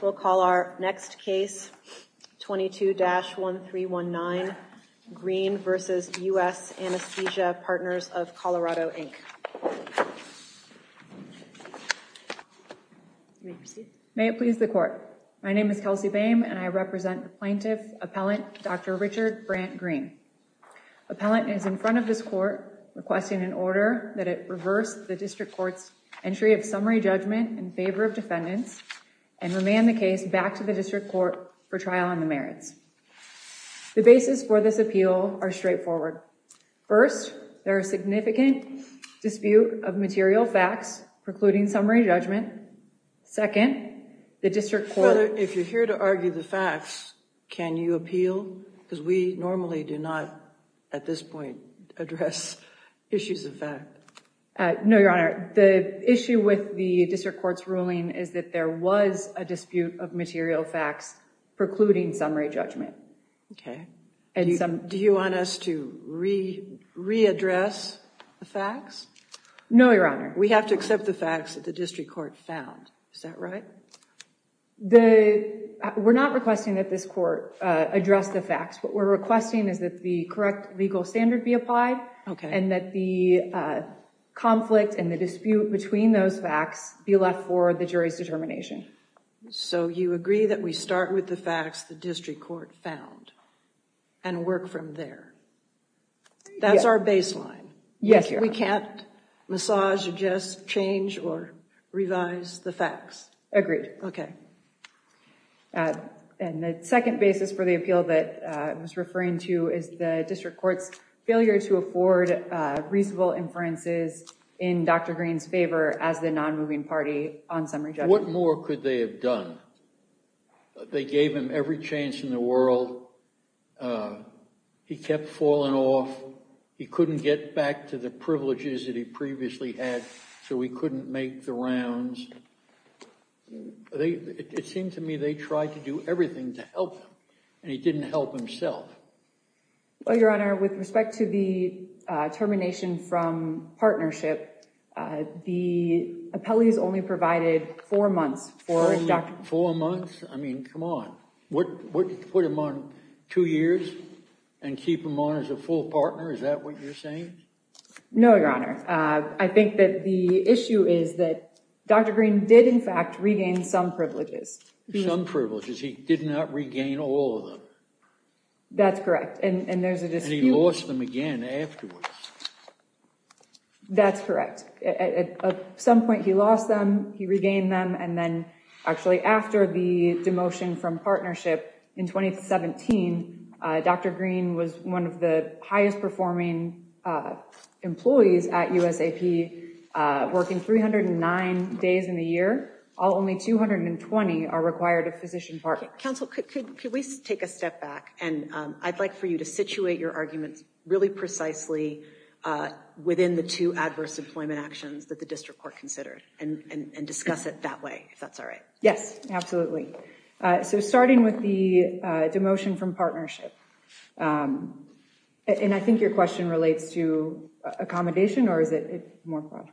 We'll call our next case, 22-1319, Green v. U.S. Anesthesia Partners of Colorado, Inc. May it please the court. My name is Kelsey Boehm and I represent the plaintiff, Appellant Dr. Richard Brant Green. Appellant is in front of this court requesting an order that it reverse the district court's entry of summary judgment in favor of defendants and remand the case back to the district court for trial on the merits. The basis for this appeal are straightforward. First, there is significant dispute of material facts precluding summary judgment. Second, the district court... If you're here to argue the facts, can you appeal? Because we normally do not, at this point, address issues of fact. No, Your Honor. The issue with the district court's ruling is that there was a dispute of material facts precluding summary judgment. Okay. Do you want us to re-address the facts? No, Your Honor. We have to accept the facts that the district court found. Is that right? We're not requesting that this court address the facts. What we're requesting is that the correct legal standard be applied and that the conflict and the dispute between those facts be left for the jury's determination. So you agree that we start with the facts the district court found and work from there? That's our baseline? Yes, Your Honor. We can't massage, adjust, change, or revise the facts? Agreed. Okay. And the second basis for the appeal that I was referring to is the district court's failure to afford reasonable inferences in Dr. Green's favor as the non-moving party on summary judgment. What more could they have done? They gave him every chance in the world. He kept falling off. He couldn't get back to the privileges that he previously had, so he couldn't make the rounds. It seemed to me they tried to do everything to help him, and he didn't help himself. Well, Your Honor, with respect to the termination from partnership, the appellees only provided four months for Dr. Green. Four months? I mean, come on. What, put him on two years and keep him on as a full partner? Is that what you're saying? No, Your Honor. I think that the issue is that Dr. Green did, in fact, regain some privileges. Some privileges. He did not regain all of them. That's correct, and there's a dispute. And he lost them again afterwards. That's correct. At some point he lost them, he regained them, and then actually after the demotion from partnership in 2017, Dr. Green was one of the highest performing employees at USAP, working 309 days in a year. Only 220 are required of physician partners. Counsel, could we take a step back, and I'd like for you to situate your arguments really precisely within the two adverse employment actions that the district court considered, and discuss it that way, if that's all right. Yes, absolutely. So starting with the demotion from partnership, and I think your question relates to accommodation, or is it more broad?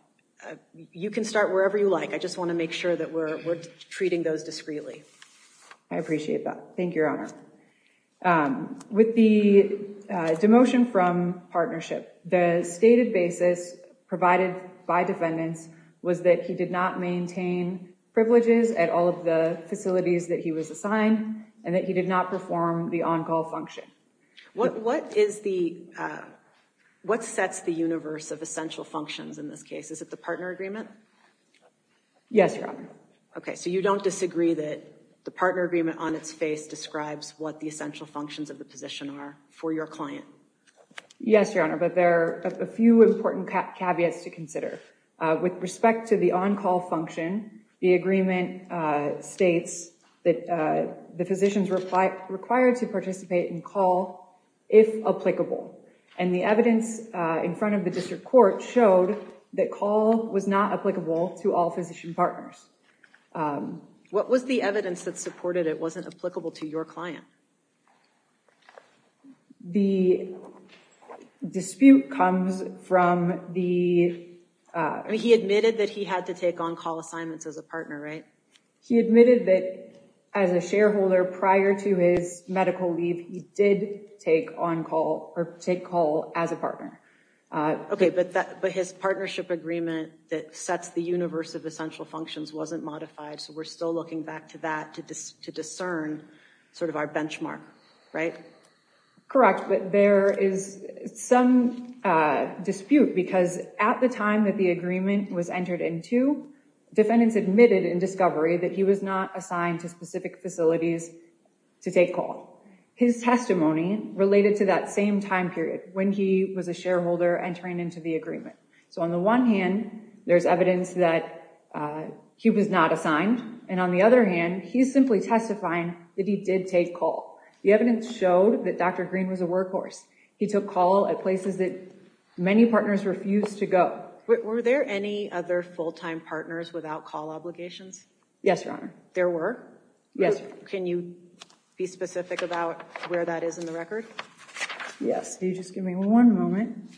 You can start wherever you like. I just want to make sure that we're treating those discreetly. I appreciate that. Thank you, Your Honor. With the demotion from partnership, the stated basis provided by defendants was that he did not maintain privileges at all of the facilities that he was assigned, and that he did not perform the on-call function. What sets the universe of essential functions in this case? Is it the partner agreement? Yes, Your Honor. Okay, so you don't disagree that the partner agreement on its face describes what the essential functions of the position are for your client? Yes, Your Honor, but there are a few important caveats to consider. With respect to the on-call function, the agreement states that the physicians were required to participate in call if applicable, and the evidence in front of the district court showed that call was not applicable to all physician partners. What was the evidence that supported it wasn't applicable to your client? The dispute comes from the... He admitted that he had to take on-call assignments as a partner, right? He admitted that as a shareholder prior to his medical leave, he did take on-call or take call as a partner. Okay, but his partnership agreement that sets the universe of essential functions wasn't modified, so we're still looking back to that to discern sort of our benchmark, right? Correct, but there is some dispute because at the time that the agreement was entered into, defendants admitted in discovery that he was not assigned to specific facilities to take call. His testimony related to that same time period when he was a shareholder entering into the agreement. So on the one hand, there's evidence that he was not assigned, and on the other hand, he's simply testifying that he did take call. The evidence showed that Dr. Green was a workhorse. He took call at places that many partners refused to go. Were there any other full-time partners without call obligations? Yes, Your Honor. There were? Yes. Can you be specific about where that is in the record? Yes, can you just give me one moment?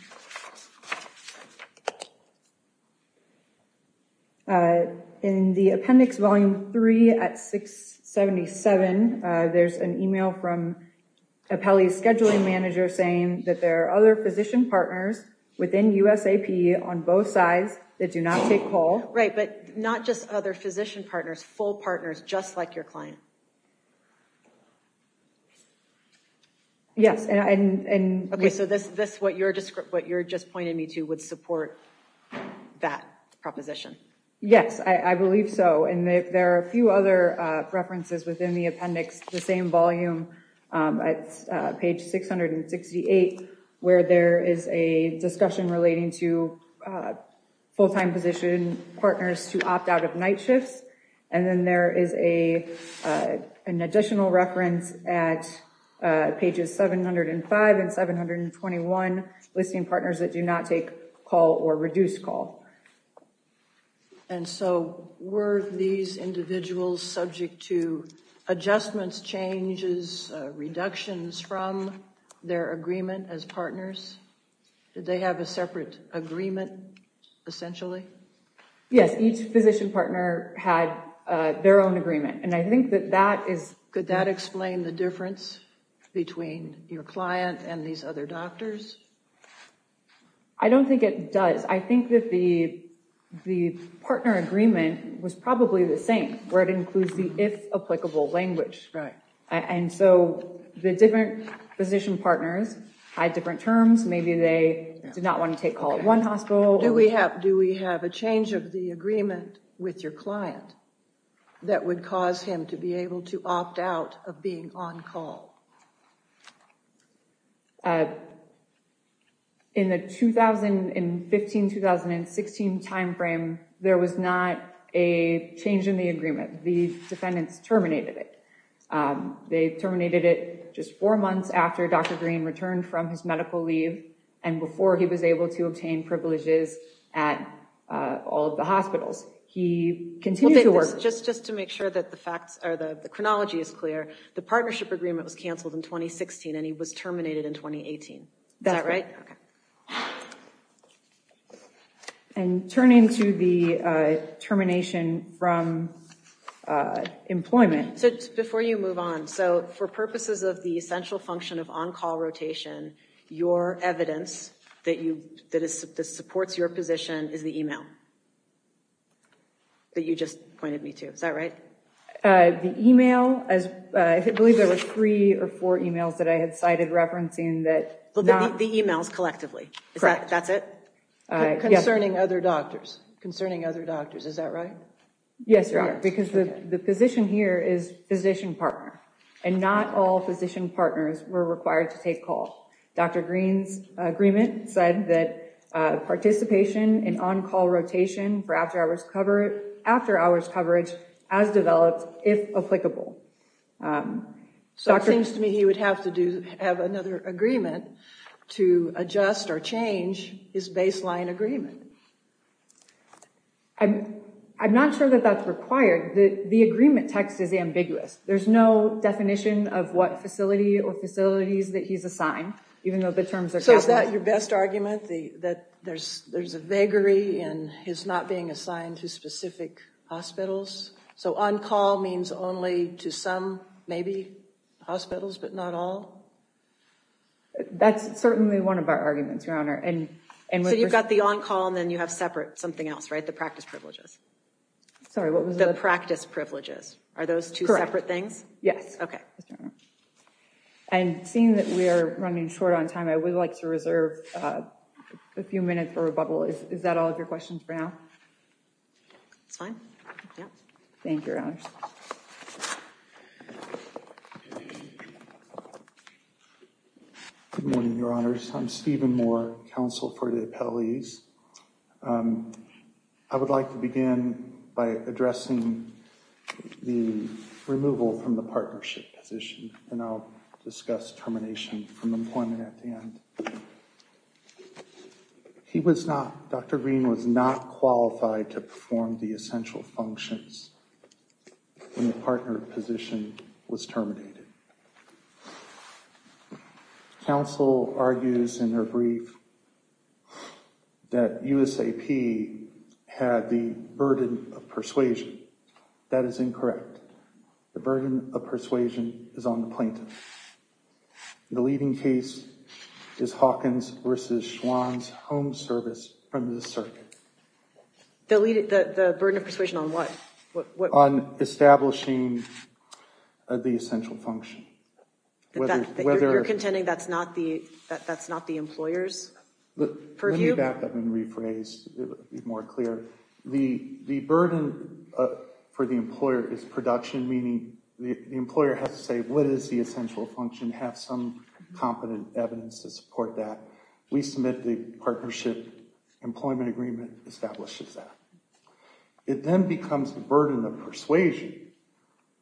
In the appendix volume 3 at 677, there's an email from Apelli's scheduling manager saying that there are other physician partners within USAP on both sides that do not take call. Right, but not just other physician partners, full partners just like your client. Okay, so what you're just pointing me to would support that proposition. Yes, I believe so, and there are a few other references within the appendix, the same volume at page 668, where there is a discussion relating to full-time physician partners who opt out of night shifts, and then there is an additional reference at pages 705 and 721, listing partners that do not take call or reduce call. And so were these individuals subject to adjustments, changes, reductions from their agreement as partners? Did they have a separate agreement, essentially? Yes, each physician partner had their own agreement, and I think that that is... Could that explain the difference between your client and these other doctors? I don't think it does. I think that the partner agreement was probably the same, where it includes the if applicable language. Right. And so the different physician partners had different terms. Maybe they did not want to take call at one hospital. Do we have a change of the agreement with your client that would cause him to be able to opt out of being on call? In the 2015-2016 timeframe, there was not a change in the agreement. The defendants terminated it. They terminated it just four months after Dr. Green returned from his medical leave, and before he was able to obtain privileges at all of the hospitals. He continued to work... Just to make sure that the facts or the chronology is clear, the partnership agreement was canceled in 2016, and he was terminated in 2018. That's right. And turning to the termination from employment... Before you move on, for purposes of the essential function of on-call rotation, your evidence that supports your position is the email that you just pointed me to. Is that right? The email, I believe there were three or four emails that I had cited referencing that... The emails collectively. Correct. That's it? Concerning other doctors. Is that right? Yes, Your Honor. Because the position here is physician partner, and not all physician partners were required to take calls. Dr. Green's agreement said that participation in on-call rotation for after-hours coverage as developed, if applicable. So it seems to me he would have to have another agreement to adjust or change his baseline agreement. I'm not sure that that's required. The agreement text is ambiguous. There's no definition of what facility or facilities that he's assigned, even though the terms are... So is that your best argument, that there's a vagary in his not being assigned to specific hospitals? So on-call means only to some, maybe, hospitals, but not all? That's certainly one of our arguments, Your Honor. So you've got the on-call, and then you have separate something else, right? The practice privileges? Sorry, what was that? The practice privileges. Are those two separate things? Yes. Okay. And seeing that we are running short on time, I would like to reserve a few minutes for a bubble. Is that all of your questions for now? That's fine. Thank you, Your Honor. Thank you. Good morning, Your Honors. I'm Stephen Moore, counsel for the appellees. I would like to begin by addressing the removal from the partnership position, and I'll discuss termination from employment at the end. He was not... Dr. Green was not qualified to perform the essential functions when the partner position was terminated. Counsel argues in her brief that USAP had the burden of persuasion. That is incorrect. The burden of persuasion is on the plaintiff. The leading case is Hawkins v. Schwann's home service from the circuit. The burden of persuasion on what? On establishing the essential function. You're contending that's not the employer's purview? Let me back up and rephrase to be more clear. The burden for the employer is production, meaning the employer has to say what is the essential function, have some competent evidence to support that. We submit the partnership employment agreement that establishes that. It then becomes a burden of persuasion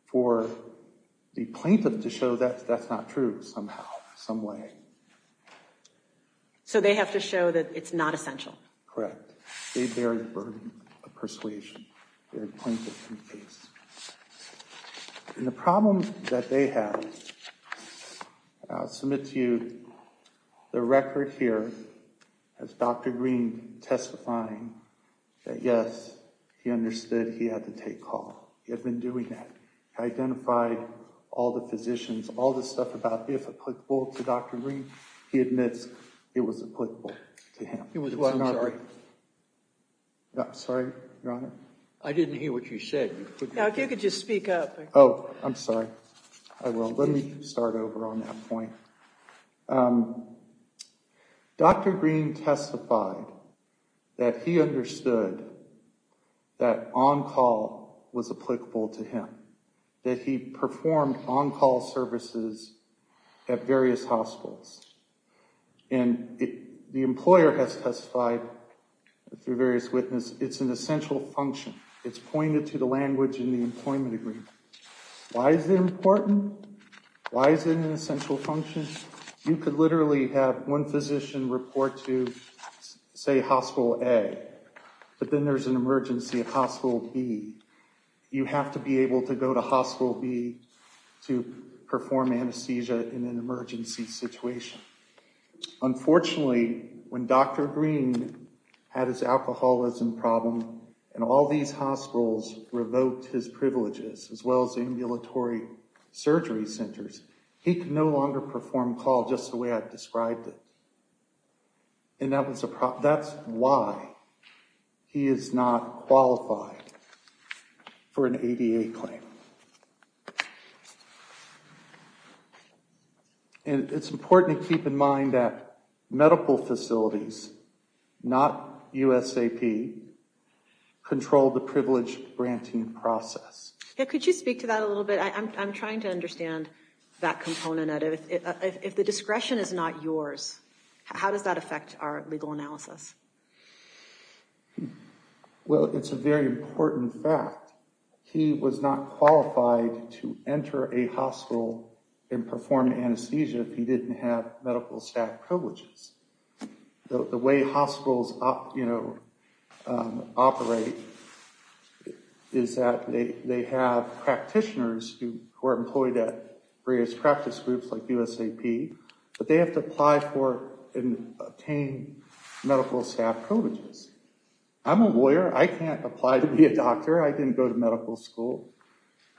for the plaintiff to show that that's not true somehow, some way. So they have to show that it's not essential? Correct. They bear the burden of persuasion. And the problem that they have, I'll submit to you the record here of Dr. Green testifying that yes, he understood he had to take call. He had been doing that. He identified all the physicians, all the stuff about if applicable to Dr. Green, he admits it was applicable to him. I'm sorry, Your Honor. I didn't hear what you said. You could just speak up. Oh, I'm sorry. I will. Let me start over on that point. Dr. Green testified that he understood that on-call was applicable to him, that he performed on-call services at various hospitals. And the employer has testified through various witnesses, it's an essential function. It's pointed to the language in the employment agreement. Why is it important? Why is it an essential function? You could literally have one physician report to, say, hospital A, but then there's an emergency at hospital B. You have to be able to go to hospital B to perform anesthesia in an emergency situation. Unfortunately, when Dr. Green had his alcoholism problem and all these hospitals revoked his privileges as well as ambulatory surgery centers, he could no longer perform call just the way I've described it. And that's why he is not qualified. For an ADA claim. And it's important to keep in mind that medical facilities, not USAP, control the privilege-granting process. Could you speak to that a little bit? I'm trying to understand that component. If the discretion is not yours, how does that affect our legal analysis? Well, it's a very important fact. He was not qualified to enter a hospital and perform anesthesia if he didn't have medical staff privileges. The way hospitals operate is that they have practitioners who are employed at various practice groups like USAP. But they have to apply for and obtain medical staff privileges. I'm a lawyer. I can't apply to be a doctor. I didn't go to medical school.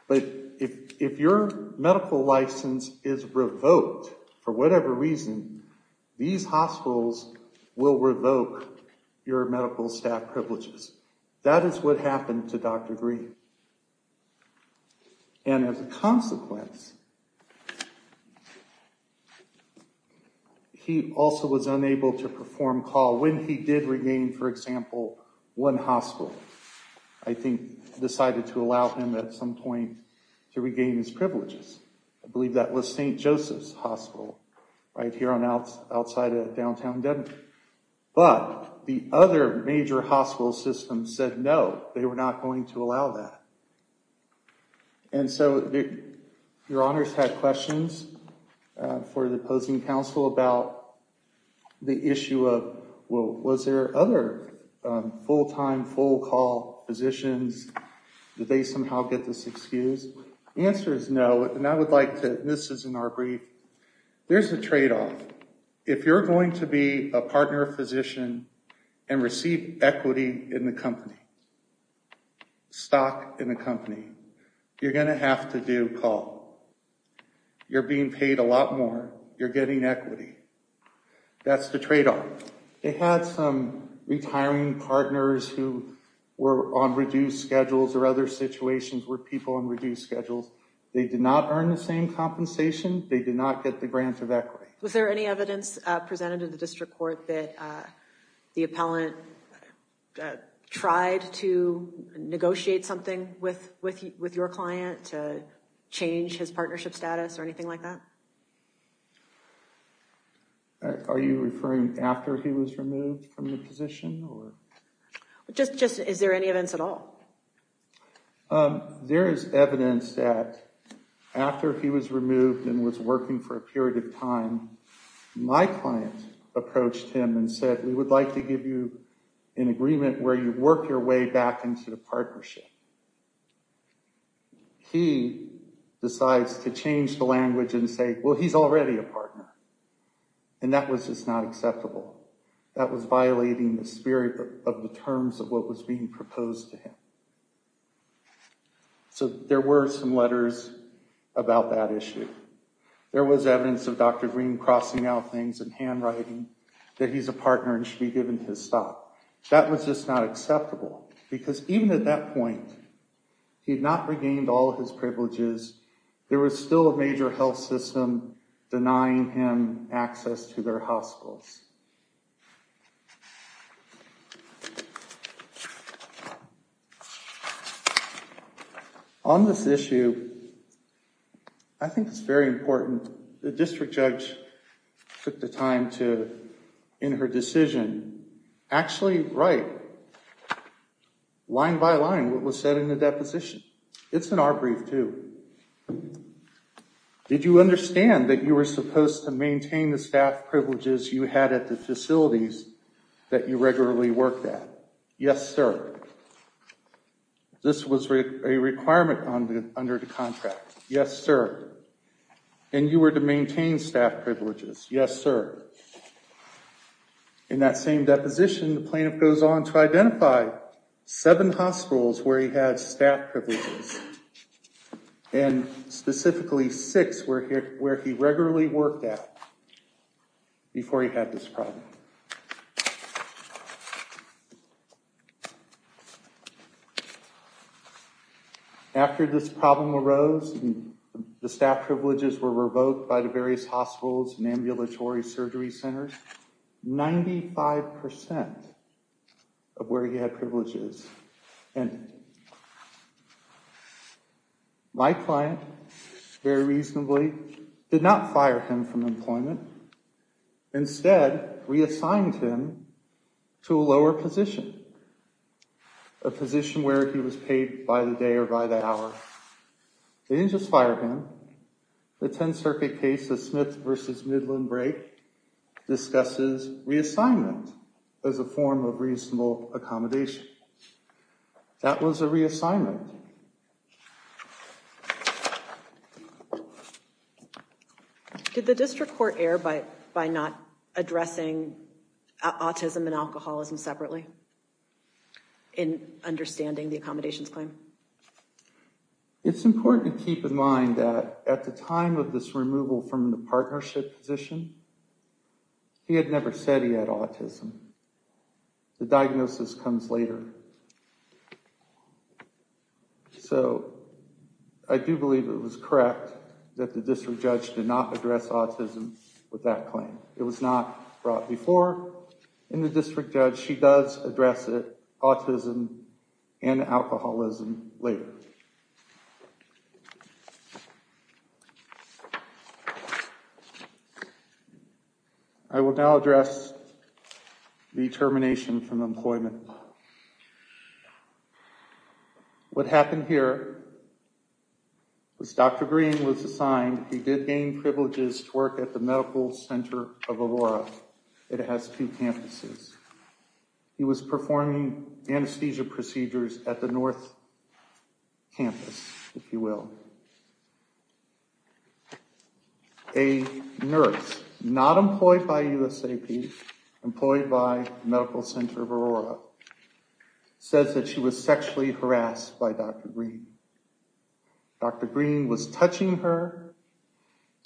But if your medical license is revoked for whatever reason, these hospitals will revoke your medical staff privileges. That is what happened to Dr. Green. And as a consequence, he also was unable to perform call when he did regain, for example, one hospital. I think decided to allow him at some point to regain his privileges. I believe that was St. Joseph's Hospital right here outside of downtown Denver. But the other major hospital system said no, they were not going to allow that. And so your honors had questions for the opposing counsel about the issue of, well, was there other full-time, full-call positions? Did they somehow get this excuse? The answer is no, and I would like to, this is in our brief, there's a trade-off. If you're going to be a partner physician and receive equity in the company, stock in the company, you're going to have to do call. You're being paid a lot more. You're getting equity. That's the trade-off. They had some retiring partners who were on reduced schedules or other situations with people on reduced schedules. They did not earn the same compensation. They did not get the grant of equity. Was there any evidence presented in the district court that the appellant tried to negotiate something with your client to change his partnership status or anything like that? Are you referring after he was removed from the position? Is there any evidence at all? There is evidence that after he was removed and was working for a period of time, my client approached him and said, we would like to give you an agreement where you work your way back into the partnership. He decides to change the language and say, well, he's already a partner, and that was just not acceptable. That was violating the spirit of the terms of what was being proposed to him. So there were some letters about that issue. There was evidence of Dr. Green crossing out things in handwriting that he's a partner and should be given his stop. That was just not acceptable because even at that point, he had not regained all of his privileges. There was still a major health system denying him access to their hospitals. On this issue, I think it's very important. The district judge took the time to, in her decision, actually write, line by line, what was said in the deposition. It's in our brief, too. Did you understand that you were supposed to maintain the staff privileges you had at the facilities that you regularly worked at? Yes, sir. This was a requirement under the contract. Yes, sir. And you were to maintain staff privileges. Yes, sir. In that same deposition, the plaintiff goes on to identify seven hospitals where he had staff privileges, and specifically six where he regularly worked at before he had this problem. After this problem arose and the staff privileges were revoked by the various hospitals and ambulatory surgery centers, 95% of where he had privileges ended. My client, very reasonably, did not fire him from employment. Instead, reassigned him to a lower position, a position where he was paid by the day or by the hour. They didn't just fire him. The 10th Circuit case of Smith v. Midland Brake discusses reassignment as a form of reasonable accommodation. That was a reassignment. Next slide. Did the district court err by not addressing autism and alcoholism separately in understanding the accommodations claim? It's important to keep in mind that at the time of this removal from the partnership position, he had never said he had autism. The diagnosis comes later. So I do believe it was correct that the district judge did not address autism with that claim. It was not brought before. In the district judge, she does address autism and alcoholism later. Next slide. Next slide. I will now address the termination from employment. What happened here was Dr. Green was assigned. He did gain privileges to work at the Medical Center of Aurora. It has two campuses. He was performing anesthesia procedures at the North Campus, if you will. A nurse, not employed by USAP, employed by Medical Center of Aurora, says that she was sexually harassed by Dr. Green. Dr. Green was touching her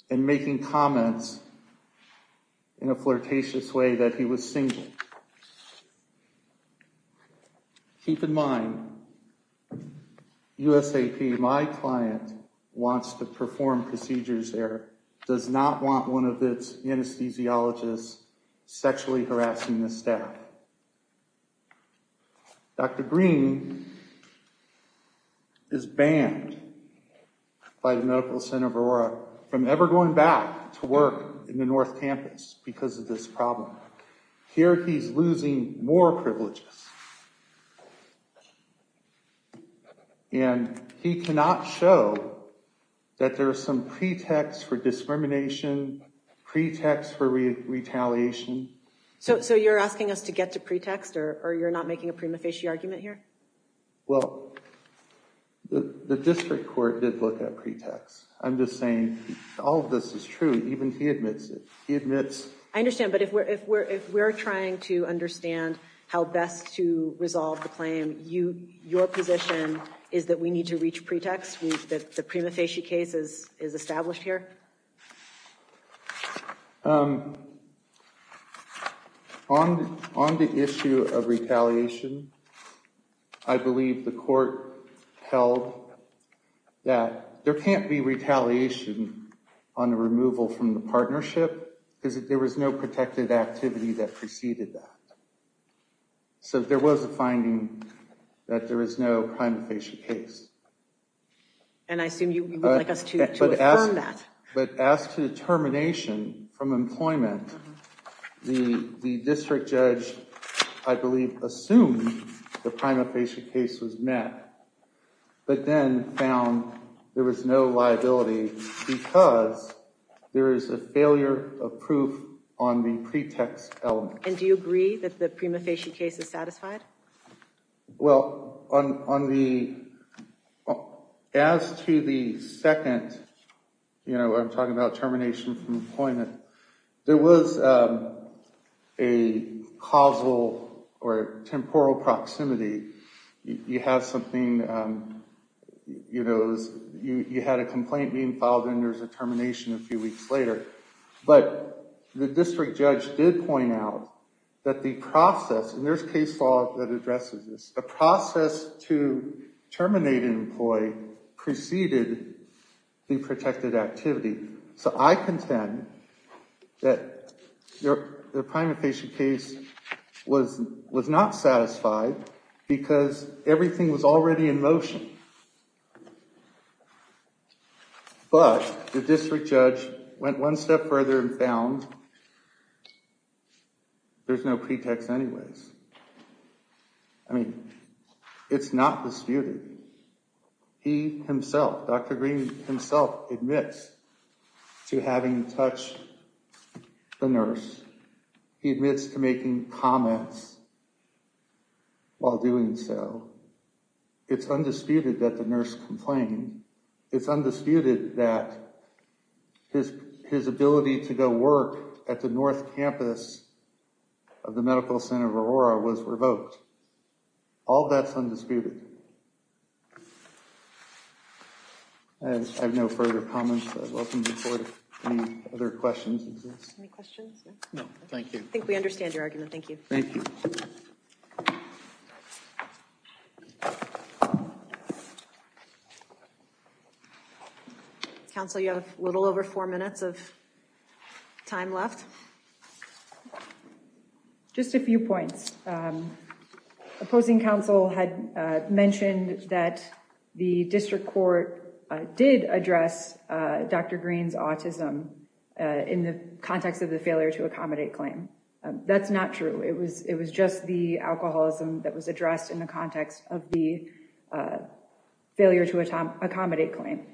and making comments in a flirtatious way that he was single. Keep in mind, USAP, my client, wants to perform procedures there, does not want one of its anesthesiologists sexually harassing the staff. Dr. Green is banned by the Medical Center of Aurora from ever going back to work in the North Campus because of this problem. Here he is losing more privileges. And he cannot show that there is some pretext for discrimination, pretext for retaliation. So you're asking us to get to pretext, or you're not making a prima facie argument here? Well, the district court did look at pretext. I'm just saying all of this is true, even if he admits it. I understand, but if we're trying to understand how best to resolve the claim, your position is that we need to reach pretext, that the prima facie case is established here? On the issue of retaliation, I believe the court held that there can't be retaliation on the removal from the partnership because there was no protected activity that preceded that. So there was a finding that there is no prima facie case. And I assume you would like us to affirm that. But as to the termination from employment, the district judge, I believe, assumed the prima facie case was met, but then found there was no liability because there is a failure of proof on the pretext element. And do you agree that the prima facie case is satisfied? Well, on the – as to the second, you know, I'm talking about termination from employment, there was a causal or temporal proximity. You have something – you had a complaint being filed and there's a termination a few weeks later. But the district judge did point out that the process – and there's case law that addresses this – the process to terminate an employee preceded the protected activity. So I contend that the prima facie case was not satisfied because everything was already in motion. But the district judge went one step further and found there's no pretext anyways. I mean, it's not disputed. He himself, Dr. Green himself admits to having touched the nurse. He admits to making comments while doing so. It's undisputed that the nurse complained. It's undisputed that his ability to go work at the north campus of the medical center of Aurora was revoked. All that's undisputed. I have no further comments, but I welcome your report if any other questions exist. Any questions? No, thank you. I think we understand your argument. Thank you. Thank you. Thank you. Counsel, you have a little over four minutes of time left. Just a few points. Opposing counsel had mentioned that the district court did address Dr. Green's autism in the context of the failure to accommodate claim. That's not true. It was just the alcoholism that was addressed in the context of the failure to accommodate claim.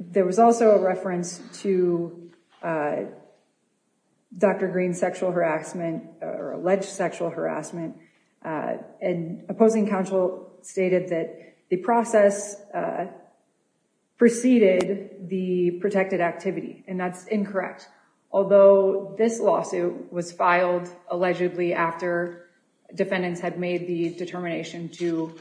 There was also a reference to Dr. Green's sexual harassment or alleged sexual harassment. And opposing counsel stated that the process preceded the protected activity, and that's incorrect. Although this lawsuit was filed allegedly after defendants had made the determination to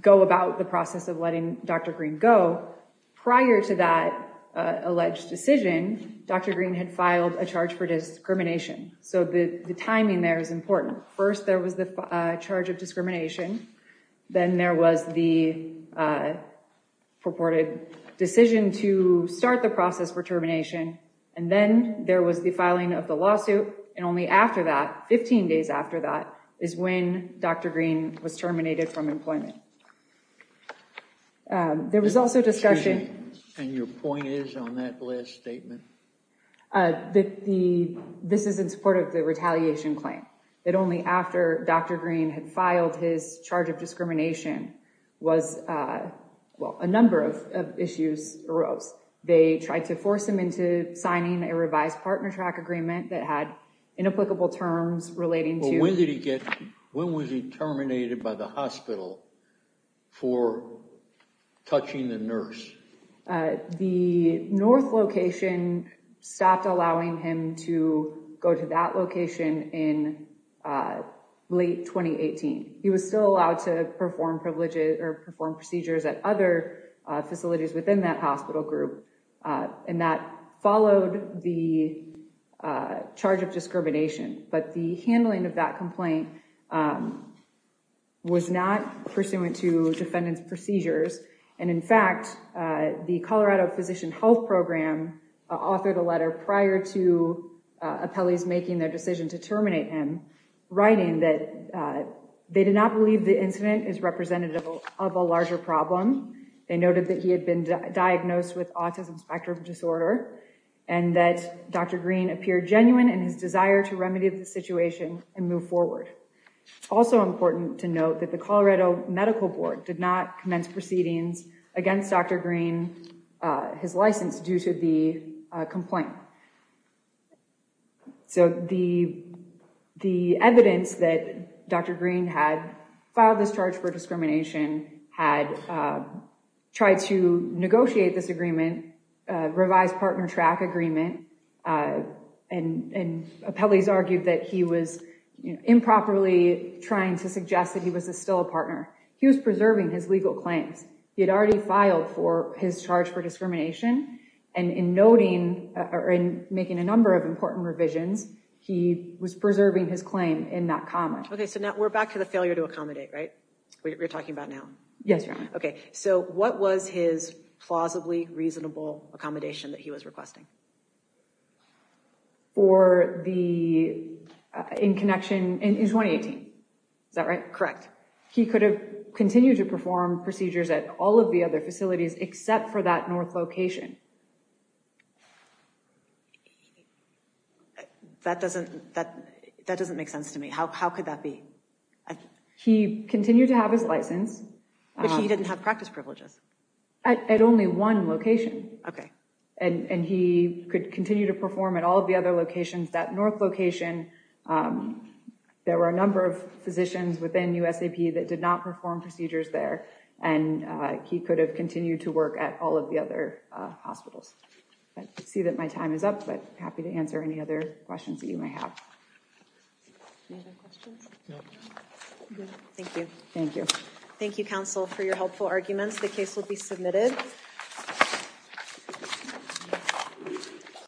go about the process of letting Dr. Green go, prior to that alleged decision, Dr. Green had filed a charge for discrimination. So the timing there is important. First, there was the charge of discrimination. Then there was the purported decision to start the process for termination. And then there was the filing of the lawsuit. And only after that, 15 days after that, is when Dr. Green was terminated from employment. There was also discussion. And your point is on that last statement? This is in support of the retaliation claim. That only after Dr. Green had filed his charge of discrimination was, well, a number of issues arose. They tried to force him into signing a revised partner track agreement that had inapplicable terms relating to— Well, when did he get—when was he terminated by the hospital for touching the nurse? The north location stopped allowing him to go to that location in late 2018. He was still allowed to perform procedures at other facilities within that hospital group. And that followed the charge of discrimination. But the handling of that complaint was not pursuant to defendant's procedures. And in fact, the Colorado Physician Health Program authored a letter prior to appellees making their decision to terminate him, writing that they did not believe the incident is representative of a larger problem. They noted that he had been diagnosed with autism spectrum disorder, and that Dr. Green appeared genuine in his desire to remedy the situation and move forward. Also important to note that the Colorado Medical Board did not commence proceedings against Dr. Green, his license, due to the complaint. So the evidence that Dr. Green had filed this charge for discrimination, had tried to negotiate this agreement, revised partner track agreement, and appellees argued that he was improperly trying to suggest that he was still a partner. He was preserving his legal claims. He had already filed for his charge for discrimination, and in noting—or in making a number of important revisions, he was preserving his claim in that comment. Okay, so now we're back to the failure to accommodate, right? We're talking about now? Yes, Your Honor. Okay, so what was his plausibly reasonable accommodation that he was requesting? For the—in connection—in 2018. Is that right? Correct. He could have continued to perform procedures at all of the other facilities except for that north location. That doesn't—that doesn't make sense to me. How could that be? He continued to have his license. But he didn't have practice privileges. At only one location. Okay. And he could continue to perform at all of the other locations. That north location, there were a number of physicians within USAP that did not perform procedures there, and he could have continued to work at all of the other hospitals. I see that my time is up, but I'm happy to answer any other questions that you may have. Any other questions? No. Thank you. Thank you. Thank you, counsel, for your helpful arguments. The case will be submitted. Thank you.